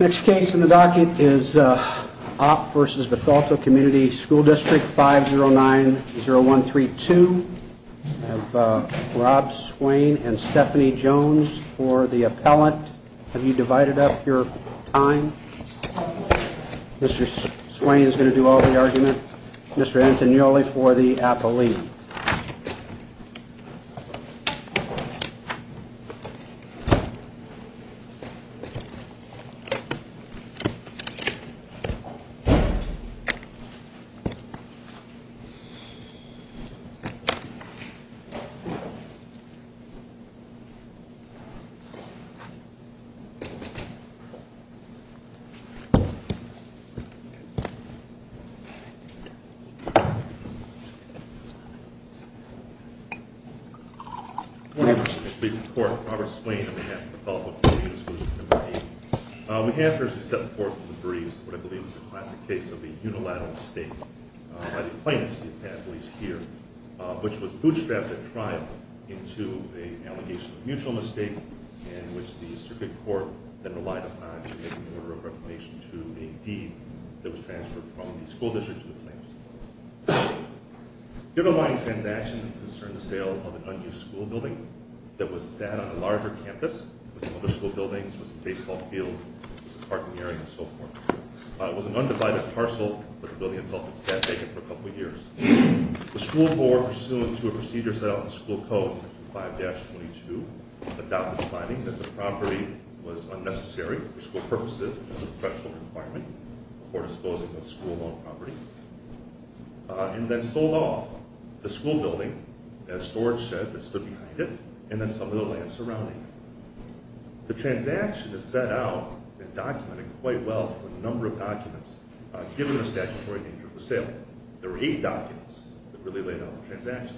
Next case in the docket is Opp v. Bethalto Comm. School Dist. 5090132. I have Rob Swain and Stephanie Jones for the appellant. Have you divided up your time? Mr. Swain is going to do all the argument. Mr. Antignoli for the appellee. Mr. Swain on behalf of Bethalto Comm. Unit School District No. 8. We have here as we set forth the briefs what I believe is a classic case of a unilateral mistake by the plaintiffs, the appellees here, which was bootstrapped at trial into an allegation of mutual mistake in which the circuit court then relied upon to make an order of reclamation to a deed that was transferred from the school district to the plaintiffs. The underlying transaction concerned the sale of an unused school building that was sat on a larger campus with some other school buildings, with some baseball fields, with some parking area and so forth. It was an undivided parcel, but the building itself had sat vacant for a couple of years. The school board, pursuant to a procedure set out in the school code, section 5-22, adopted the finding that the property was unnecessary for school purposes because of the threshold requirement for disposing of school-owned property, and then sold off the school building, the storage shed that stood behind it, and then some of the land surrounding it. The transaction is set out and documented quite well for the number of documents given the statutory danger of the sale. There were eight documents that really laid out the transaction.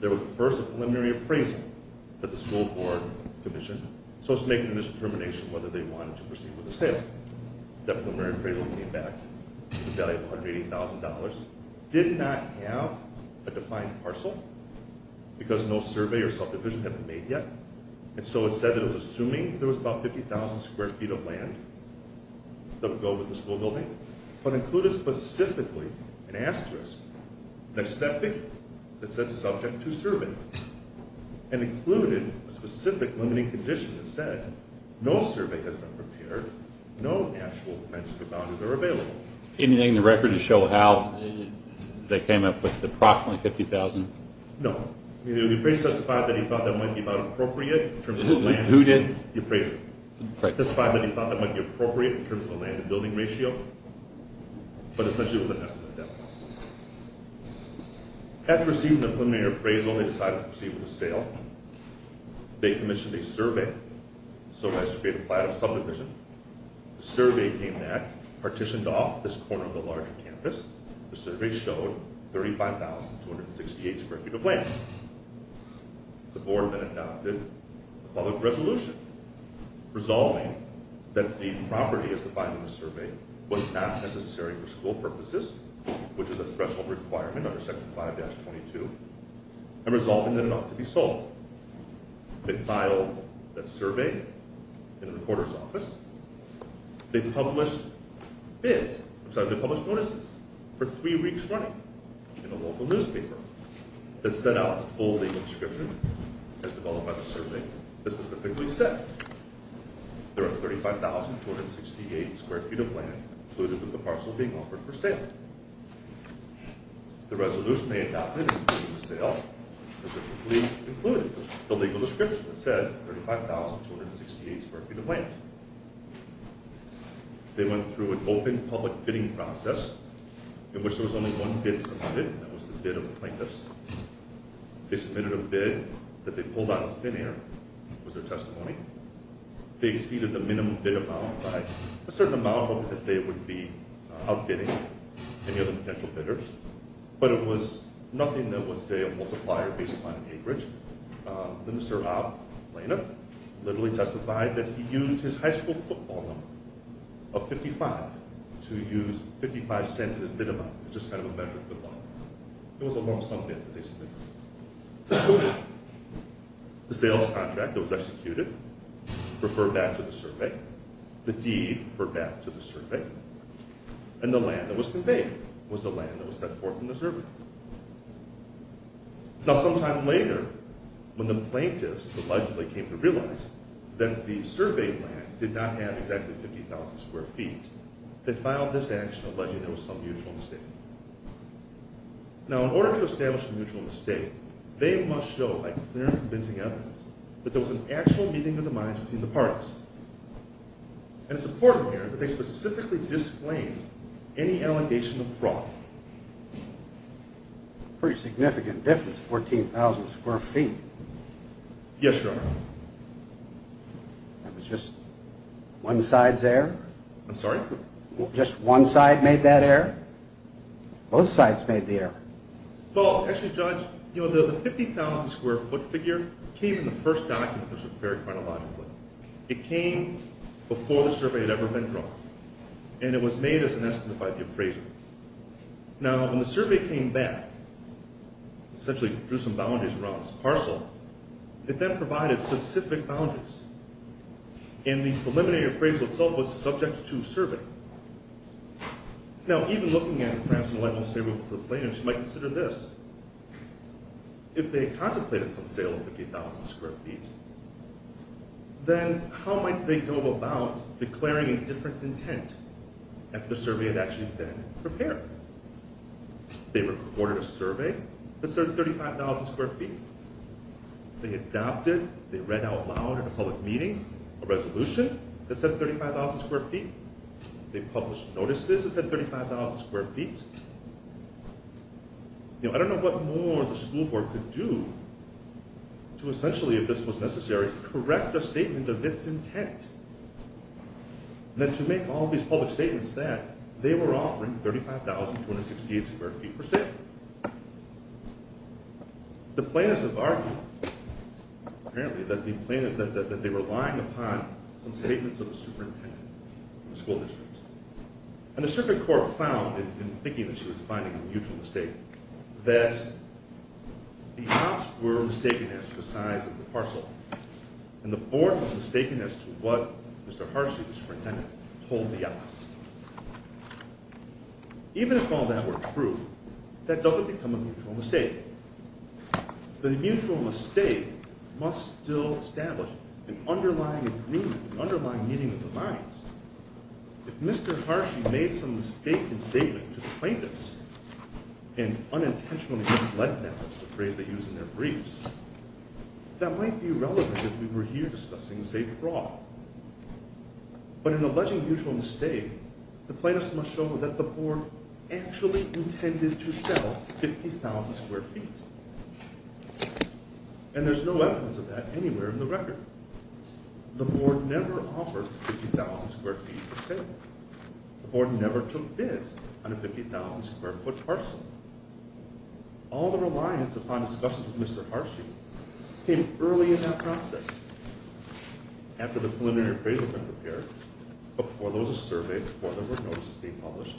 There was first a preliminary appraisal that the school board commissioned, so it was making a determination whether they wanted to proceed with the sale. The preliminary appraisal came back with a value of $180,000. It did not have a defined parcel because no survey or subdivision had been made yet, and so it said that it was assuming there was about 50,000 square feet of land that would go with the school building, but included specifically an asterisk next to that figure that said subject to survey, and included a specific limiting condition that said no survey has been prepared, no actual dimensions or boundaries are available. Anything in the record to show how they came up with approximately 50,000? No. The appraiser testified that he thought that might be about appropriate in terms of the land and building ratio, but essentially it was an estimate. After receiving the preliminary appraisal, they decided to proceed with the sale. They commissioned a survey so as to create a plan of subdivision. The survey came back, partitioned off this corner of the larger campus. The survey showed 35,268 square feet of land. The board then adopted a public resolution resolving that the property as defined in the survey was not necessary for school purposes, which is a threshold requirement under Section 5-22, and resolving that it ought to be sold. They filed that survey in the recorder's office. They published bids, I'm sorry, they published notices for three weeks running in a local newspaper that set out a full legal description as developed by the survey that specifically said there are 35,268 square feet of land included with the parcel being offered for sale. The resolution they adopted in the sale included the legal description that said 35,268 square feet of land. They went through an open public bidding process in which there was only one bid submitted, and that was the bid of the plaintiffs. They submitted a bid that they pulled out of thin air was their testimony. They exceeded the minimum bid amount by a certain amount, hoping that they would be outbidding any other potential bidders. But it was nothing that was, say, a multiplier based on acreage. Mr. Ob Blaneth literally testified that he used his high school football number of 55 to use 55 cents as his bid amount. It was a lump sum bid that they submitted. The sales contract that was executed referred back to the survey. The deed referred back to the survey. And the land that was conveyed was the land that was set forth in the survey. Now sometime later, when the plaintiffs allegedly came to realize that the survey land did not have exactly 50,000 square feet, they filed this action alleging there was some mutual mistake. Now in order to establish a mutual mistake, they must show by clear and convincing evidence that there was an actual meeting of the minds between the parties. And it's important here that they specifically disclaimed any allegation of fraud. Pretty significant difference, 14,000 square feet. Yes, Your Honor. That was just one side's error? I'm sorry? Just one side made that error? Both sides made the error. Well, actually, Judge, you know, the 50,000 square foot figure came in the first document that was prepared chronologically. It came before the survey had ever been drawn. And it was made as an estimate by the appraiser. Now when the survey came back, essentially drew some boundaries around this parcel, it then provided specific boundaries. And the preliminary appraisal itself was subject to survey. Now even looking at perhaps the most favorable plaintiffs, you might consider this. If they contemplated some sale of 50,000 square feet, then how might they go about declaring a different intent after the survey had actually been prepared? They recorded a survey that served 35,000 square feet. They adopted, they read out loud in a public meeting, a resolution that said 35,000 square feet. They published notices that said 35,000 square feet. You know, I don't know what more the school board could do to essentially, if this was necessary, correct a statement of its intent. Then to make all these public statements that they were offering 35,268 square feet for sale. The plaintiffs have argued, apparently, that they were relying upon some statements of the superintendent of the school district. And the circuit court found, in thinking that she was finding a mutual mistake, that the cops were mistaken as to the size of the parcel. And the board was mistaken as to what Mr. Harshi, the superintendent, told the office. Even if all that were true, that doesn't become a mutual mistake. The mutual mistake must still establish an underlying agreement, an underlying meeting of the minds. If Mr. Harshi made some mistaken statement to the plaintiffs, and unintentionally misled them, which is a phrase they use in their briefs, that might be relevant if we were here discussing, say, fraud. But in alleging mutual mistake, the plaintiffs must show that the board actually intended to sell 50,000 square feet. And there's no evidence of that anywhere in the record. The board never offered 50,000 square feet for sale. The board never took bids on a 50,000 square foot parcel. All the reliance upon discussions with Mr. Harshi came early in that process. After the preliminary appraisal had been prepared, before there was a survey, before there were notices being published.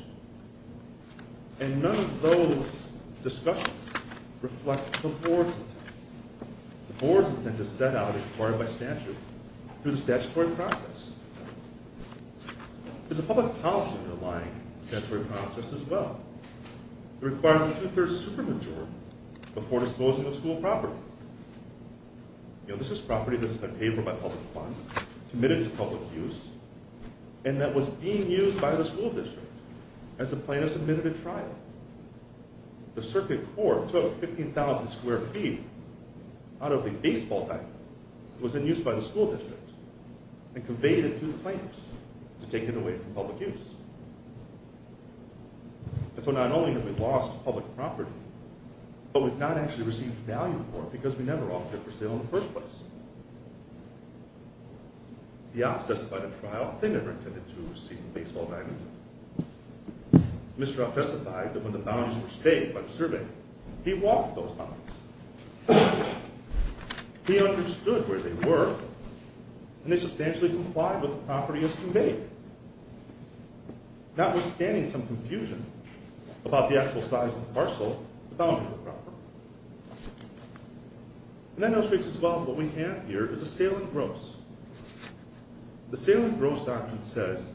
And none of those discussions reflect the board's intent. The board's intent is set out and required by statute through the statutory process. There's a public policy underlying the statutory process as well. It requires a two-thirds supermajority before disclosing of school property. You know, this is property that has been paid for by public funds, committed to public use, and that was being used by the school district as the plaintiff submitted a trial. The circuit court took 50,000 square feet out of a baseball title that was in use by the school district and conveyed it to the plaintiffs to take it away from public use. And so not only have we lost public property, but we've not actually received value for it because we never offered it for sale in the first place. The ops testified at trial they never intended to receive a baseball diamond. Mr. Opp testified that when the boundaries were staked by the survey, he walked those boundaries. He understood where they were, and they substantially complied with the property as conveyed. Notwithstanding some confusion about the actual size of the parcel, the boundaries were proper. And that illustrates as well what we have here is a sale and gross. The sale and gross doctrine says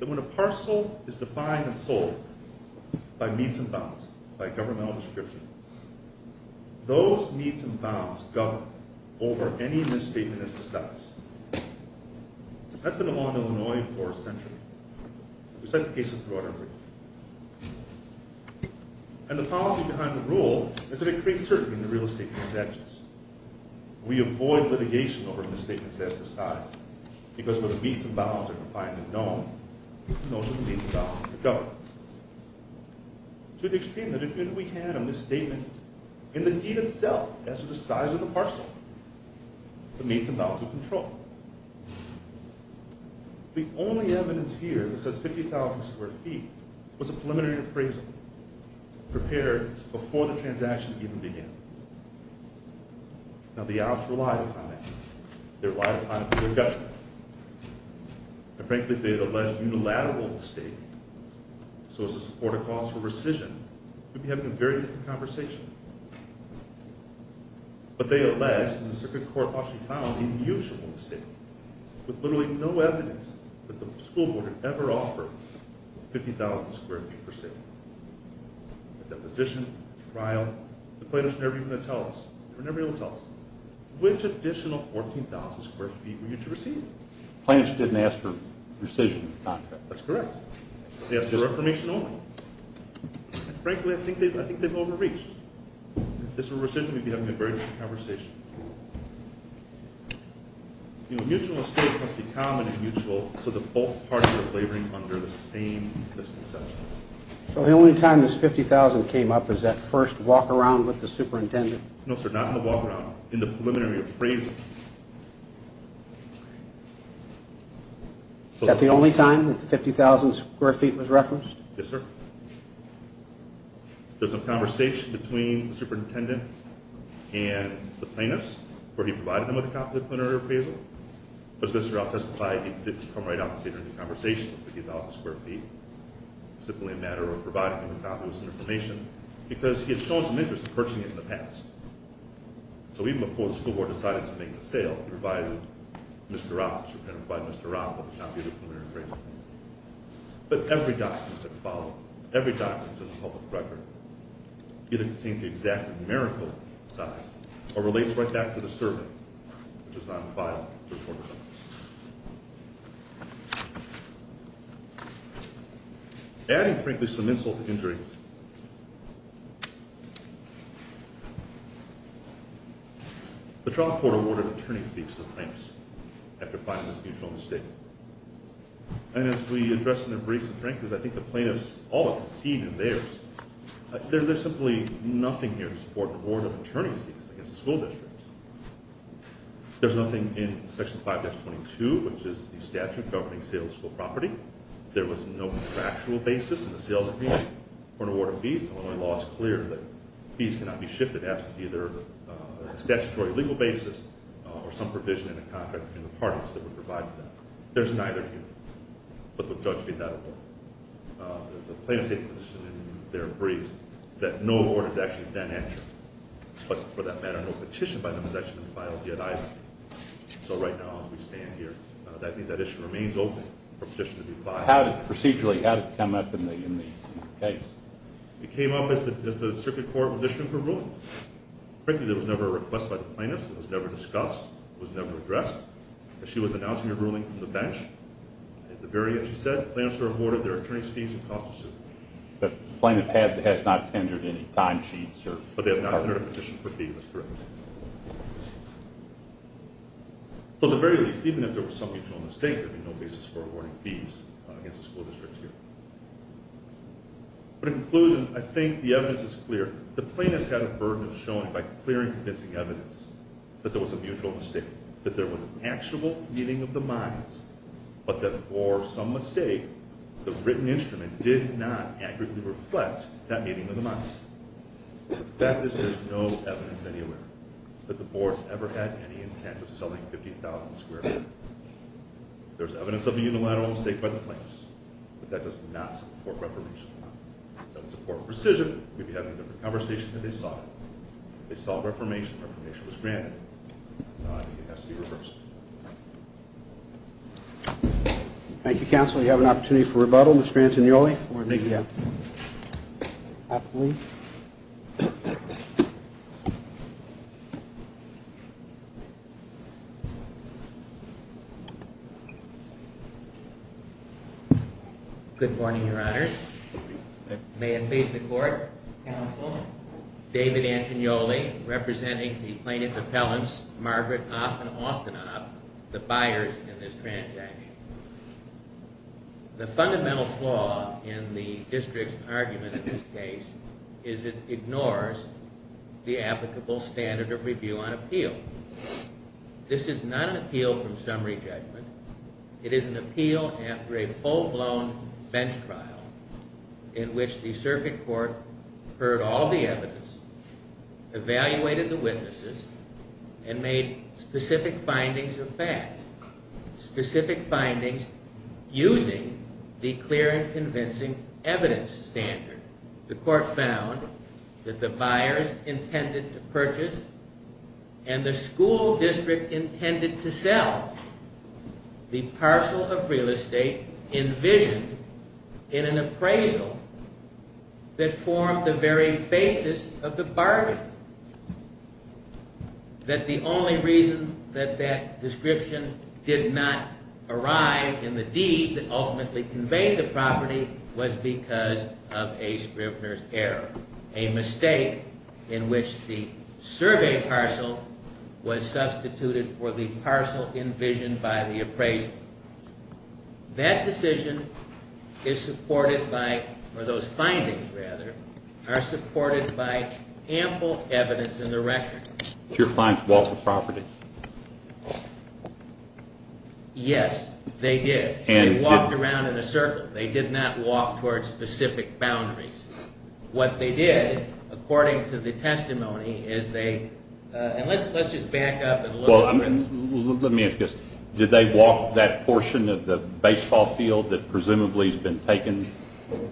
that when a parcel is defined and sold by means and bounds, by governmental description, those means and bounds govern over any misstatement of the status. That's been the law in Illinois for a century. We cite the cases throughout everything. And the policy behind the rule is that it creates certainty in the real estate transactions. We avoid litigation over misstatements as to size, because when the means and bounds are defined and known, those are the means and bounds that govern. To the extreme that if we had a misstatement in the deed itself as to the size of the parcel, the means and bounds would control it. The only evidence here that says 50,000 square feet was a preliminary appraisal prepared before the transaction even began. Now the ops relied upon that. They relied upon a clear judgment. And frankly, if they had alleged unilateral estate, so as to support a cause for rescission, we'd be having a very different conversation. But they alleged in the Circuit Court of Washington an unusual mistake, with literally no evidence that the school board had ever offered 50,000 square feet for sale. The deposition, the trial, the plaintiffs were never even going to tell us. They were never able to tell us. Which additional 14,000 square feet were you to receive? Plaintiffs didn't ask for rescission of the contract. That's correct. They asked for affirmation only. Frankly, I think they've overreached. If this were rescission, we'd be having a very different conversation. Mutual estate must be common and mutual so that both parties are laboring under the same misconception. So the only time this 50,000 came up is that first walk-around with the superintendent? No, sir. Not in the walk-around. In the preliminary appraisal. Is that the only time that the 50,000 square feet was referenced? Yes, sir. There's some conversation between the superintendent and the plaintiffs, where he provided them with a copy of the preliminary appraisal. But as Mr. Roth testified, he didn't come right out and say during the conversation it was 50,000 square feet. It was simply a matter of providing him a copy with some information because he had shown some interest in purchasing it in the past. So even before the school board decided to make the sale, he provided Mr. Roth, the superintendent provided Mr. Roth with a copy of the preliminary appraisal. But every document that followed, every document to the public record, either contains the exact numerical size or relates right back to the survey which was not filed to the court of appeals. Adding, frankly, some insult to injury, the trial court awarded attorney's fees to the plaintiffs after finding this mutual estate. And as we addressed in a recent hearing, because I think the plaintiffs all conceded theirs, there's simply nothing here to support the award of attorney's fees against the school district. There's nothing in Section 5-22, which is the statute governing sale of school property. There was no factual basis in the sales agreement for an award of fees. The Illinois law is clear that fees cannot be shifted after either a statutory legal basis or some provision in a contract between the parties that would provide them. There's neither here. But the judge made that award. The plaintiff's position in there agrees that no award is actually then entered. But for that matter, no petition by them is actually filed yet either. So right now, as we stand here, I think that issue remains open for a petition to be filed. How did it procedurally come up in the case? It came up as the circuit court was issuing her ruling. Frankly, there was never a request by the plaintiff. It was never discussed. It was never addressed. She was announcing her ruling from the bench. At the very end, she said, plaintiffs are awarded their attorney's fees and costs of suit. But the plaintiff has not tendered any timesheets? But they have not tendered a petition for fees. That's correct. So at the very least, even if there was some mutual mistake, there would be no basis for awarding fees against the school district here. In conclusion, I think the evidence is clear. The plaintiff's had a burden of showing by clearing convincing evidence that there was a mutual mistake, that there was an actual meeting of the minds, but that for some mistake, the written instrument did not accurately reflect that meeting of the minds. The fact is there's no evidence anywhere that the board ever had any intent of selling 50,000 square feet. There's evidence of a unilateral mistake by the plaintiffs, but that does not support reformation. It doesn't support precision. We'd be having a different conversation if they saw it. If they saw reformation, reformation was granted. It has to be reversed. Thank you, counsel. We have an opportunity for rebuttal. Mr. Antonioli, for me. May it please the court. Counsel. David Antonioli, representing the plaintiff's appellants, Margaret Off and Austin Off, the buyers in this transaction. The fundamental flaw in the district's argument in this case is it ignores the applicable standard of review on appeal. This is not an appeal from summary judgment. It is an appeal after a full-blown bench trial in which the circuit court heard all the evidence, evaluated the witnesses, and made specific findings of facts, specific findings using the clear and convincing evidence standard. The court found that the buyers intended to purchase and the school district intended to sell the parcel of real estate envisioned in an appraisal that formed the very basis of the bargain. That the only reason that that description did not arrive in the deed that ultimately conveyed the property was because of a Scribner's error, a mistake in which the survey parcel was substituted for the parcel envisioned by the appraisal. That decision is supported by, or those findings, rather, are supported by ample evidence in the record. Did your clients walk the property? Yes, they did. They walked around in a circle. They did not walk towards specific boundaries. What they did, according to the testimony, is they, and let's just back up a little bit. Well, let me ask this. Did they walk that portion of the baseball field that presumably has been taken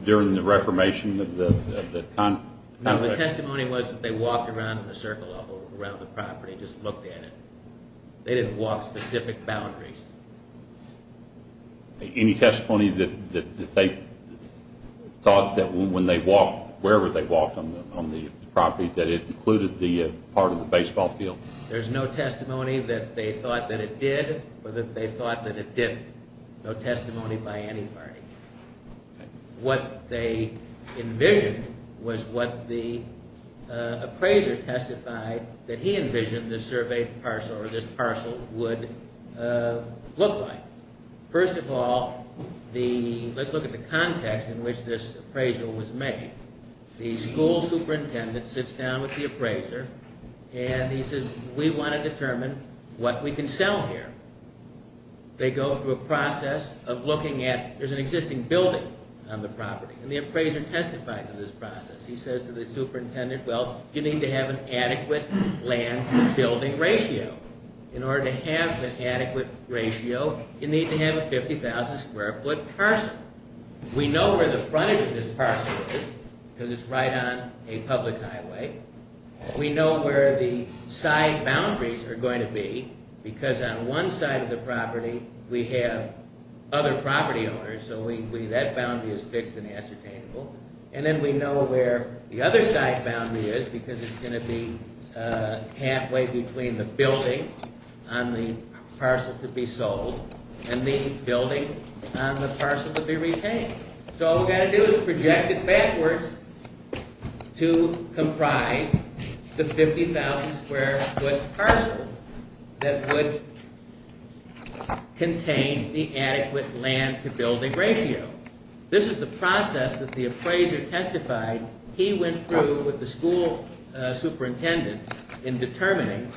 during the reformation of the contract? No, the testimony was that they walked around in a circle around the property, just looked at it. They didn't walk specific boundaries. Any testimony that they thought that when they walked, wherever they walked on the property, that it included the part of the baseball field? There's no testimony that they thought that it did or that they thought that it didn't. No testimony by any party. What they envisioned was what the appraiser testified that he envisioned the survey parcel, or this parcel, would look like. First of all, let's look at the context in which this appraisal was made. The school superintendent sits down with the appraiser and he says, we want to determine what we can sell here. They go through a process of looking at, there's an existing building on the property, and the appraiser testifies to this process. He says to the superintendent, well, you need to have an adequate land to building ratio. In order to have an adequate ratio, you need to have a 50,000 square foot parcel. We know where the front of this parcel is, because it's right on a public highway. We know where the side boundaries are going to be, because on one side of the property we have other property owners, so that boundary is fixed and ascertainable. And then we know where the other side boundary is, because it's going to be halfway between the building on the parcel to be sold and the building on the parcel to be retained. So all we've got to do is project it backwards to comprise the 50,000 square foot parcel that would contain the adequate land to building ratio. This is the process that the appraiser testified. He went through with the school superintendent in determining,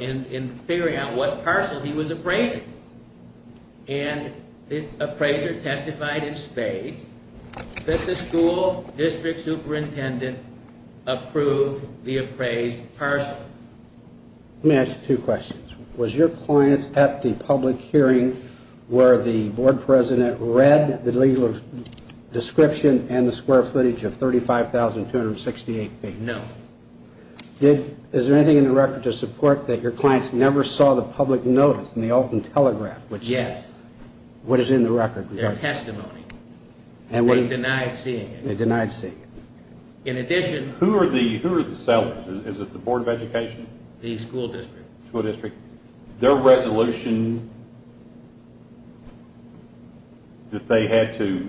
in figuring out what parcel he was appraising. And the appraiser testified in spades that the school district superintendent approved the appraised parcel. Let me ask you two questions. Was your client at the public hearing where the board president read the legal description and the square footage of 35,268 feet? No. Is there anything in the record to support that your clients never saw the public notice in the Alton Telegraph? Yes. What is in the record? Their testimony. They denied seeing it. They denied seeing it. In addition, Who are the sellers? Is it the Board of Education? The school district. School district. Their resolution that they had to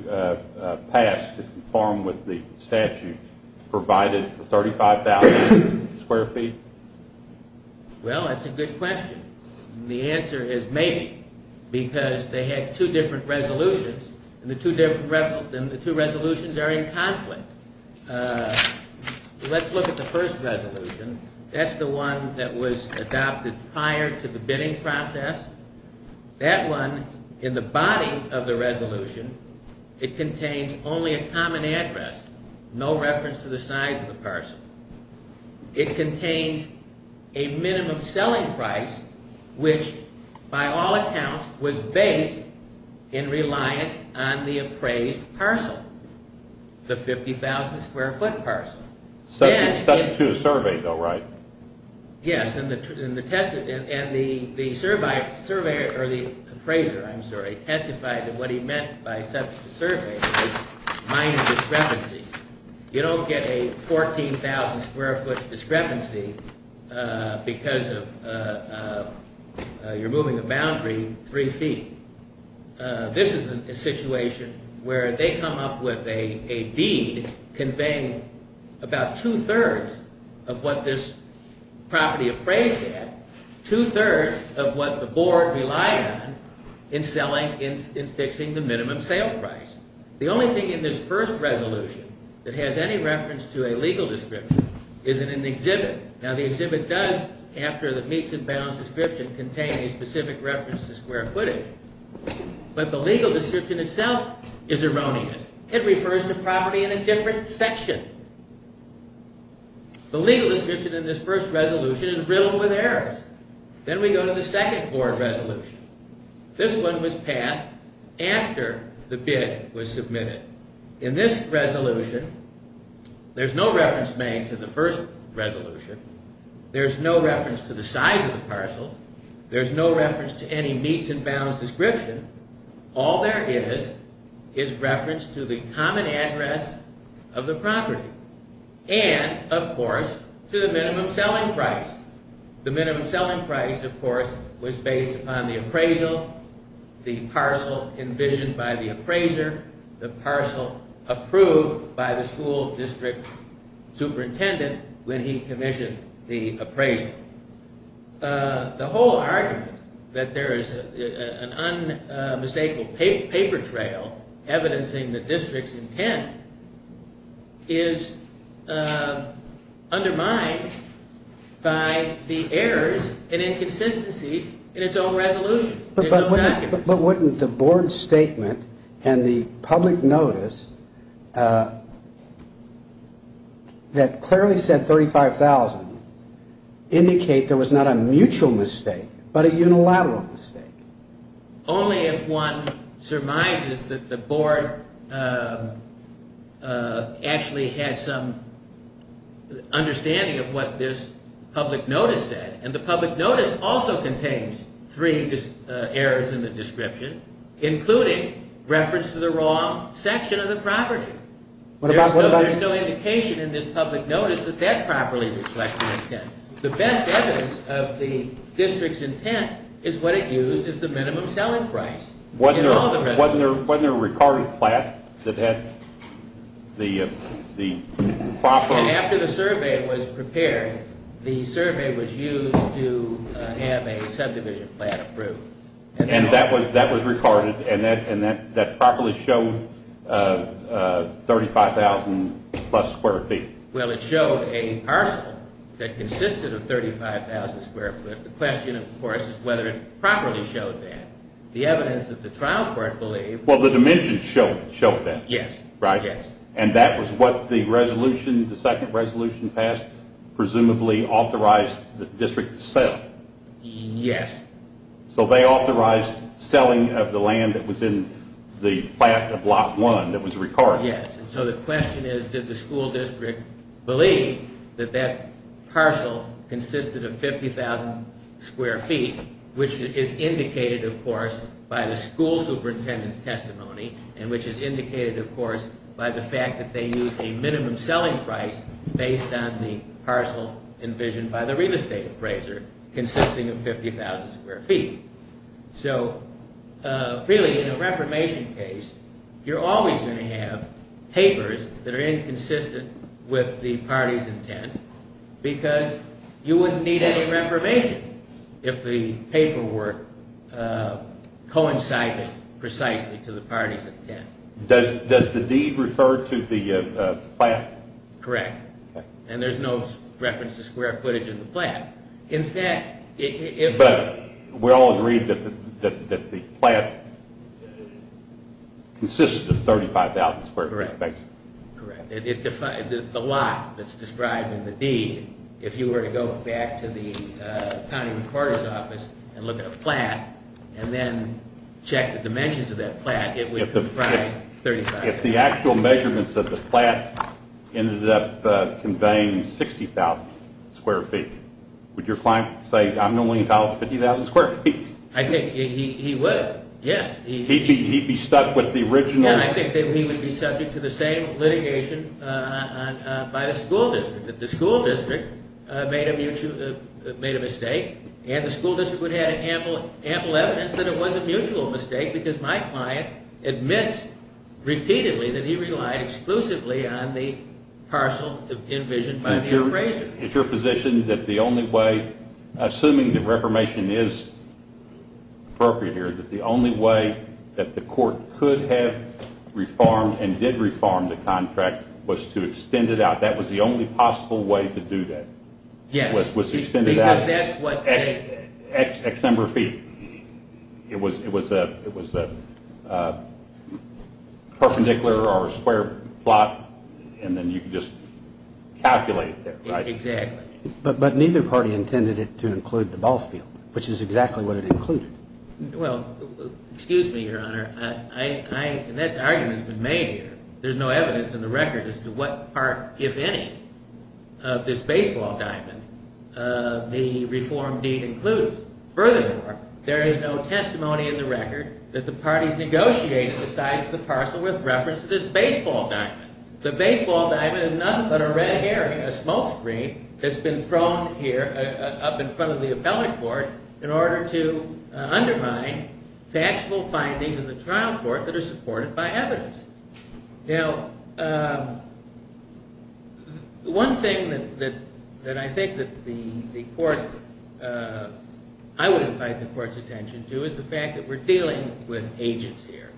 pass to conform with the statute provided for 35,000 square feet? Well, that's a good question. The answer is maybe because they had two different resolutions and the two resolutions are in conflict. Let's look at the first resolution. That's the one that was adopted prior to the bidding process. That one, in the body of the resolution, it contains only a common address, no reference to the size of the parcel. It contains a minimum selling price which, by all accounts, was based in reliance on the appraised parcel, the 50,000 square foot parcel. The statute is surveyed, though, right? Yes, and the appraiser testified that what he meant by subject to survey was minor discrepancy. You don't get a 14,000 square foot discrepancy because you're moving a boundary three feet. This is a situation where they come up with a deed conveying about two-thirds of what this property appraised had, two-thirds of what the board relied on in selling, in fixing the minimum sale price. The only thing in this first resolution that has any reference to a legal description is in an exhibit. Now, the exhibit does, after the meets and bounds description, contain a specific reference to square footage, but the legal description itself is erroneous. It refers to property in a different section. The legal description in this first resolution is riddled with errors. Then we go to the second board resolution. This one was passed after the bid was submitted. In this resolution, there's no reference made to the first resolution. There's no reference to the size of the parcel. There's no reference to any meets and bounds description. All there is is reference to the common address of the property and, of course, to the minimum selling price. The minimum selling price, of course, was based upon the appraisal, the parcel envisioned by the appraiser, the parcel approved by the school district superintendent when he commissioned the appraisal. The whole argument that there is an unmistakable paper trail evidencing the district's intent is undermined by the errors and inconsistencies in its own resolution, its own document. But wouldn't the board statement and the public notice that clearly said $35,000 indicate there was not a mutual mistake but a unilateral mistake? Only if one surmises that the board actually had some understanding of what this public notice said. Including reference to the wrong section of the property. There's no indication in this public notice that that properly reflects the intent. The best evidence of the district's intent is what it used as the minimum selling price. Wasn't there a recorded plan that had the proper... After the survey was prepared, the survey was used to have a subdivision plan approved. And that was recorded and that properly showed $35,000 plus square feet. Well, it showed a parcel that consisted of $35,000 square foot. The question, of course, is whether it properly showed that. The evidence that the trial court believed... Well, the dimensions showed that. Yes. Right? Yes. And that was what the second resolution passed presumably authorized the district to sell. Yes. So they authorized selling of the land that was in the plot of Block 1 that was recorded. Yes. So the question is, did the school district believe that that parcel consisted of 50,000 square feet, which is indicated, of course, by the school superintendent's testimony and which is indicated, of course, by the fact that they used a minimum selling price based on the parcel envisioned by the real estate appraiser consisting of 50,000 square feet. So really, in a reformation case, you're always going to have papers that are inconsistent with the party's intent because you wouldn't need any reformation if the paperwork coincided precisely to the party's intent. Does the deed refer to the plan? Correct. And there's no reference to square footage in the plan. But we all agreed that the plan consisted of 35,000 square feet, basically. Correct. There's the lot that's described in the deed. If you were to go back to the county recorder's office and look at a plan and then check the dimensions of that plan, it would comprise 35,000 square feet. If the actual measurements of the plan ended up conveying 60,000 square feet, would your client say, I'm only entitled to 50,000 square feet? I think he would, yes. He'd be stuck with the original? Yeah, I think he would be subject to the same litigation by the school district. If the school district made a mistake and the school district had ample evidence that it was a mutual mistake because my client admits repeatedly that he relied exclusively on the parcel envisioned by the appraiser. Is your position that the only way, assuming that reformation is appropriate here, that the only way that the court could have reformed and did reform the contract was to extend it out? That was the only possible way to do that? Yes. Was to extend it out? Because that's what they... X number of feet. It was a perpendicular or a square plot and then you could just calculate it there, right? Exactly. But neither party intended it to include the ball field, which is exactly what it included. Well, excuse me, Your Honor. This argument has been made here. There's no evidence in the record as to what part, if any, of this baseball diamond the reform deed includes. Furthermore, there is no testimony in the record that the parties negotiated the size of the parcel with reference to this baseball diamond. The baseball diamond is nothing but a red herring, a smoke screen, that's been thrown here up in front of the appellate court in order to undermine factual findings in the trial court that are supported by evidence. Now, one thing that I think that the court... I would invite the court's attention to is the fact that we're dealing with agents here.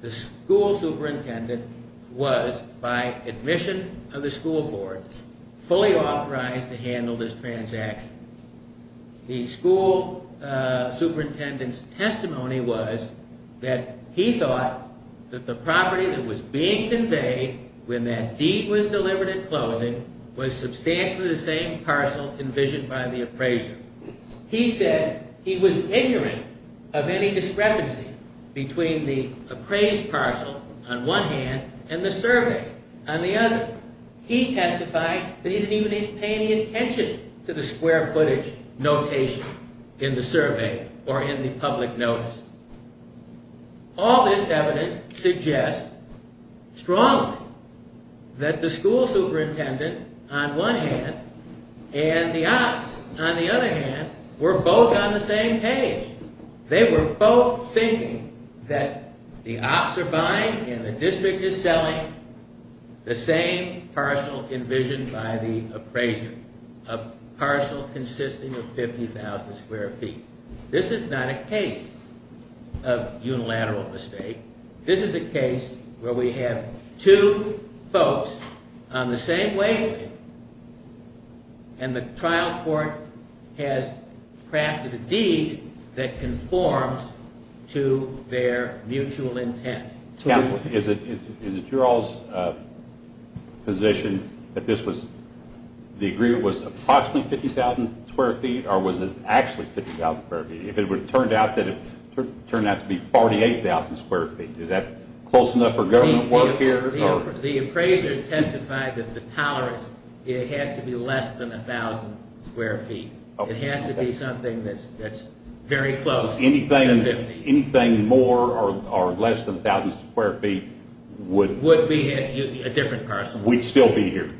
The school superintendent was, by admission of the school board, fully authorized to handle this transaction. The school superintendent's testimony was that he thought that the property that was being conveyed when that deed was delivered at closing was substantially the same parcel envisioned by the appraiser. He said he was ignorant of any discrepancy between the appraised parcel on one hand and the survey on the other. He testified that he didn't even pay any attention to the square footage notation in the survey or in the public notice. All this evidence suggests strongly that the school superintendent, on one hand, and the ops, on the other hand, were both on the same page. They were both thinking that the ops are buying and the district is selling the same parcel envisioned by the appraiser, a parcel consisting of 50,000 square feet. This is not a case of unilateral mistake. This is a case where we have two folks on the same wavelength and the trial court has crafted a deed that conforms to their mutual intent. Counsel, is it your all's position that the agreement was approximately 50,000 square feet or was it actually 50,000 square feet? If it turned out to be 48,000 square feet, is that close enough for government work here? The appraiser testified that the tolerance has to be less than 1,000 square feet. It has to be something that's very close to 50. Anything more or less than 1,000 square feet would... Would be a different parcel. Would still be here?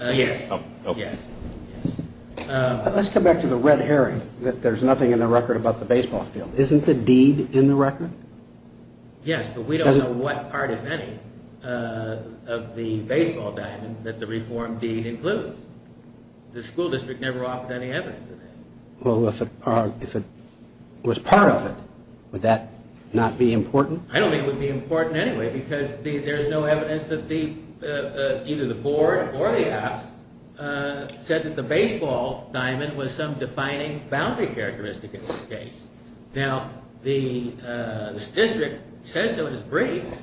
Yes. Let's come back to the red herring that there's nothing in the record about the baseball field. Isn't the deed in the record? Yes, but we don't know what part, if any, of the baseball diamond that the reformed deed includes. The school district never offered any evidence of that. Well, if it was part of it, would that not be important? I don't think it would be important anyway because there's no evidence that either the board or the ops said that the baseball diamond was some defining boundary characteristic of the case. Now, the district says so in its brief,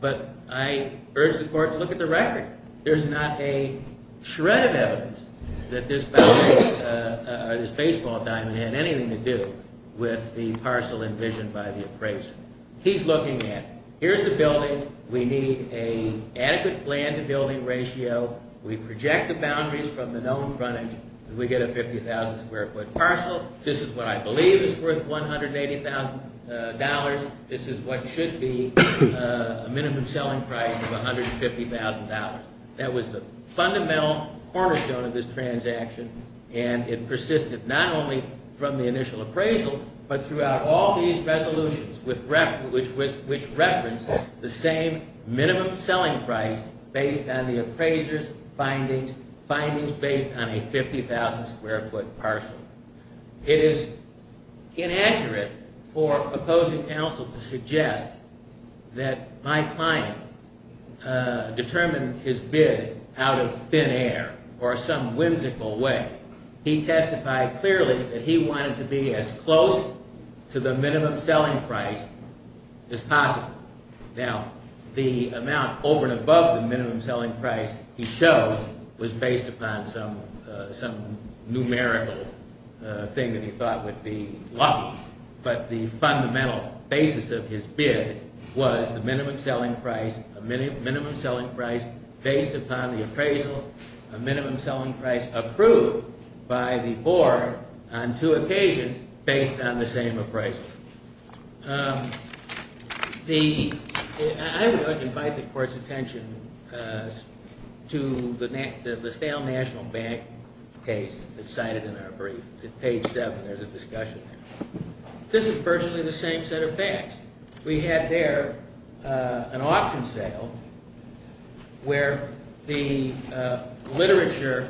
but I urge the court to look at the record. There's not a shred of evidence that this boundary or this baseball diamond had anything to do with the parcel envisioned by the appraiser. He's looking at, here's the building. We need an adequate land-to-building ratio. We project the boundaries from the known frontage. We get a 50,000-square-foot parcel. This is what I believe is worth $180,000. This is what should be a minimum selling price of $150,000. That was the fundamental cornerstone of this transaction, and it persisted not only from the initial appraisal but throughout all these resolutions which referenced the same minimum selling price based on the appraiser's findings, findings based on a 50,000-square-foot parcel. It is inaccurate for opposing counsel to suggest that my client determined his bid out of thin air or some whimsical way. He testified clearly that he wanted to be as close to the minimum selling price as possible. Now, the amount over and above the minimum selling price he chose was based upon some numerical thing that he thought would be lucky, but the fundamental basis of his bid was the minimum selling price, a minimum selling price based upon the appraisal, a minimum selling price approved by the board on two occasions based on the same appraisal. I would like to invite the court's attention to the sale national bank case that's cited in our brief. It's at page 7. There's a discussion there. This is virtually the same set of facts. We had there an auction sale where the literature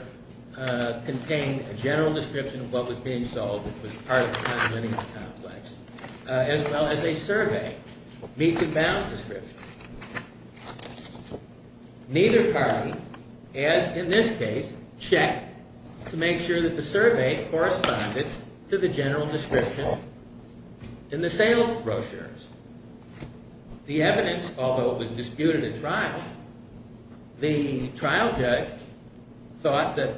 contained a general description of what was being sold which was part of the condominium complex as well as a survey, meets and bounds description. Neither party, as in this case, checked to make sure that the survey corresponded to the general description in the sales brochures. The evidence, although it was disputed at trial, the trial judge thought that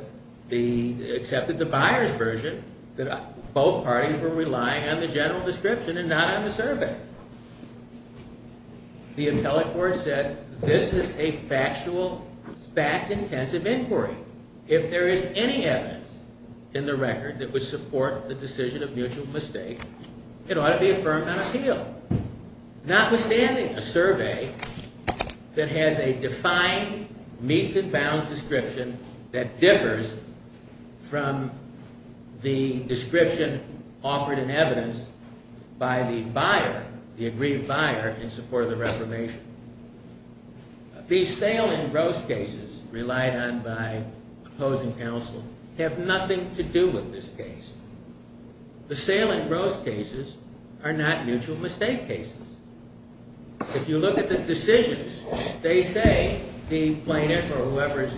the, they accepted the buyer's version that both parties were relying on the general description and not on the survey. The appellate court said this is a factual, fact-intensive inquiry. If there is any evidence in the record that would support the decision of mutual mistake, it ought to be affirmed on appeal. Notwithstanding, a survey that has a defined meets and bounds description that differs from the description offered in evidence by the buyer, the agreed buyer in support of the reformation. These sale and gross cases relied on by opposing counsel have nothing to do with this case. The sale and gross cases are not mutual mistake cases. If you look at the decisions, they say the plaintiff or whoever is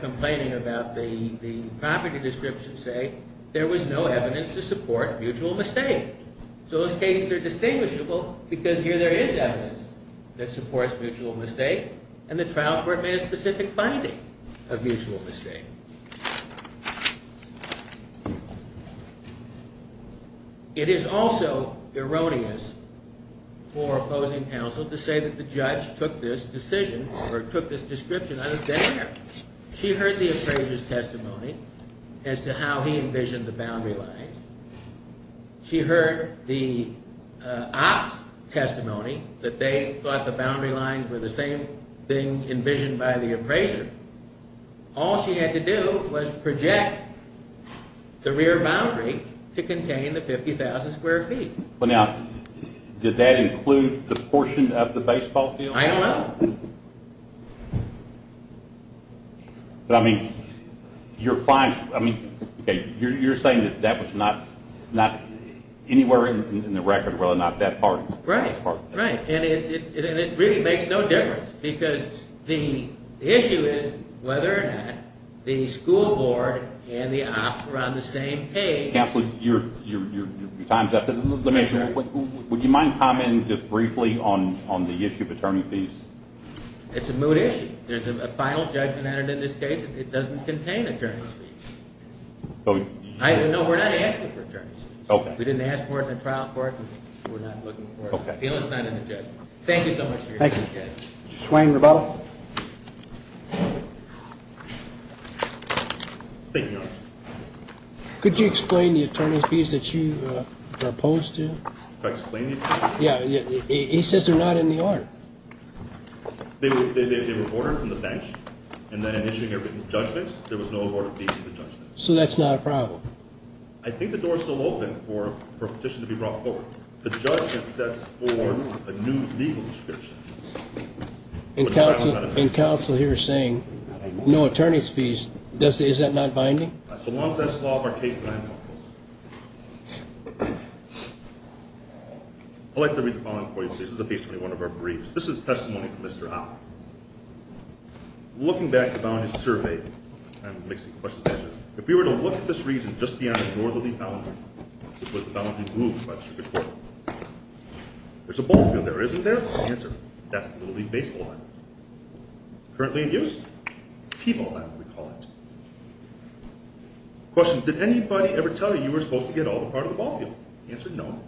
complaining about the property description say there was no evidence to support mutual mistake. So those cases are distinguishable because here there is evidence that supports mutual mistake, and the trial court made a specific finding of mutual mistake. It is also erroneous for opposing counsel to say that the judge took this decision or took this description out of their hand. She heard the appraiser's testimony as to how he envisioned the boundary lines. She heard the op's testimony that they thought the boundary lines were the same thing envisioned by the appraiser. All she had to do was project the rear boundary to contain the 50,000 square feet. Well, now, did that include the portion of the baseball field? I don't know. But I mean, you're saying that that was not anywhere in the record whether or not that part. Right, right. And it really makes no difference because the issue is whether or not the school board and the op's were on the same page. Counsel, your time's up. Would you mind commenting just briefly on the issue of attorney fees? It's a moot issue. There's a final judgment entered in this case. It doesn't contain attorney fees. No, we're not asking for attorney fees. We didn't ask for it in the trial court, and we're not looking for it. It's not in the judgment. Thank you so much for your time, Judge. Thank you. Mr. Swain, rebuttal. Thank you, Your Honor. Could you explain the attorney fees that you are opposed to? Could I explain the attorney fees? Yeah. He says they're not in the order. They were ordered from the bench, and then in issuing a written judgment, there was no ordered fees in the judgment. So that's not a problem. I think the door's still open for a petition to be brought forward. The judge has set forth a new legal description. And counsel here is saying no attorney fees. Is that not binding? As long as that's the law of our case, then I'm comfortable. I'd like to read the following for you, please. This is at page 21 of our briefs. This is testimony from Mr. Hopper. Looking back at the bondage survey, and mixing questions and answers, if we were to look at this reason just beyond the door that we found, which was the bondage moved by the circuit court, there's a ball field there, isn't there? Answer, that's the Little League baseball line. Currently in use? T-ball line, we call it. Question, did anybody ever tell you you were supposed to get all the part of the ball field? Answer, no.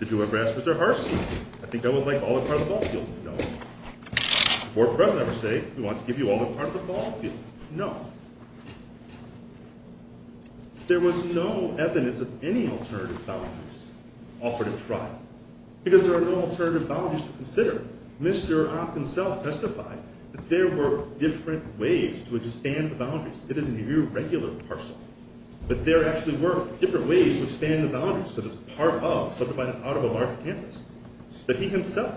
Did you ever ask Mr. Harsey, I think I would like all the part of the ball field? No. Did the Board of President ever say, we want to give you all the part of the ball field? No. There was no evidence of any alternative boundaries offered at trial. Because there are no alternative boundaries to consider. Mr. Hop himself testified that there were different ways to expand the boundaries. It is an irregular parcel. But there actually were different ways to expand the boundaries, because it's part of, subdivided out of a large campus. But he himself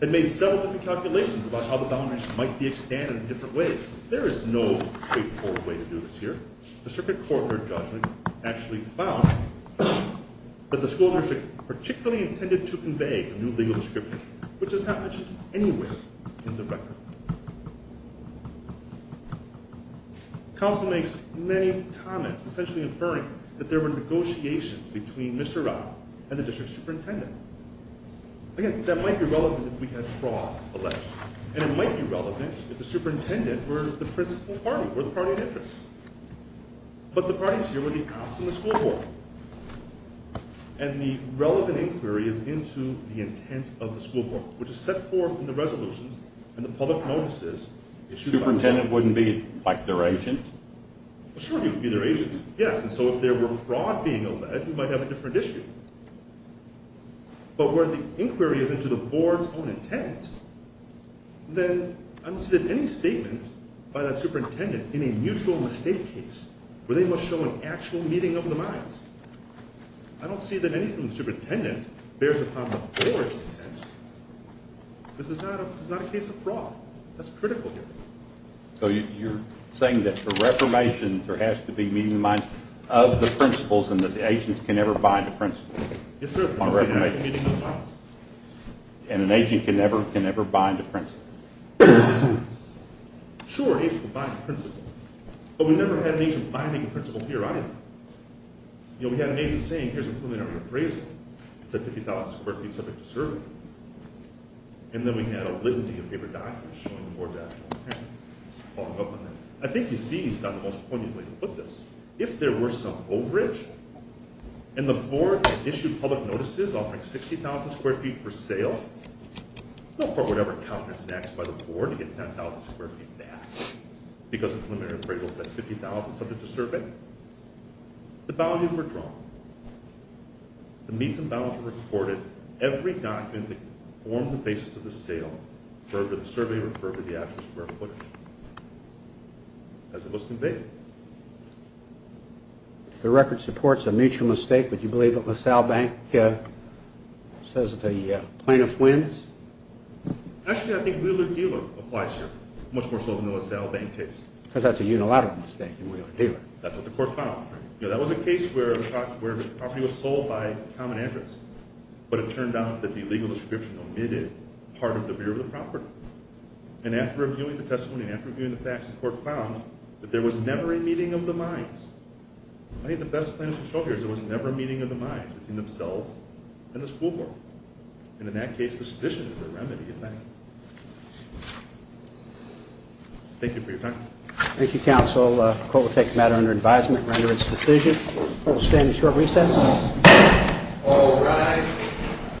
had made several different calculations about how the boundaries might be expanded in different ways. There is no straightforward way to do this here. The circuit court heard judgment, actually found that the school district particularly intended to convey a new legal description, which is not mentioned anywhere in the record. Counsel makes many comments, essentially inferring that there were negotiations between Mr. Rapp and the district superintendent. Again, that might be relevant if we had fraud alleged. And it might be relevant if the superintendent were the principal party, were the party of interest. But the parties here were the cops and the school board. And the relevant inquiry is into the intent of the school board, which is set forth in the resolutions and the public notices issued by the board. The superintendent wouldn't be, like, their agent? Sure, he would be their agent, yes. And so if there were fraud being alleged, we might have a different issue. But where the inquiry is into the board's own intent, then I don't see that any statement by that superintendent in a mutual mistake case where they must show an actual meeting of the minds. I don't see that anything the superintendent bears upon the board's intent. This is not a case of fraud. That's critical here. So you're saying that for reformation, there has to be meeting the minds of the principals and that the agents can never bind to principals? Yes, sir. And an agent can never bind to principals? Sure, agents can bind to principals. But we never had an agent binding a principal here either. You know, we had an agent saying, here's a preliminary appraisal. It said 50,000 square feet, subject to survey. And then we had a litany of paper documents showing the board's actual intent. I think you see it's not the most poignant way to put this. If there were some overage, and the board issued public notices offering 60,000 square feet for sale, for whatever count is enacted by the board to get 10,000 square feet back because a preliminary appraisal said 50,000 subject to survey, the boundaries were drawn. The meets and balances were reported. Every document that formed the basis of the sale referred to the survey, referred to the actual square footage as it was conveyed. If the record supports a mutual mistake, would you believe that LaSalle Bank says that the plaintiff wins? Actually, I think Wheeler-Dealer applies here, much more so than the LaSalle Bank case. Because that's a unilateral mistake in Wheeler-Dealer. That's what the court found. That was a case where the property was sold by common interest, but it turned out that the legal description omitted part of the rear of the property. And after reviewing the testimony, and after reviewing the facts, the court found that there was never a meeting of the minds. I think the best thing to show here is there was never a meeting of the minds between themselves and the school board. And in that case, the sedition is the remedy, in fact. Thank you for your time. Thank you, counsel. The court will take the matter under advisement and render its decision. The court will stand at short recess. All rise.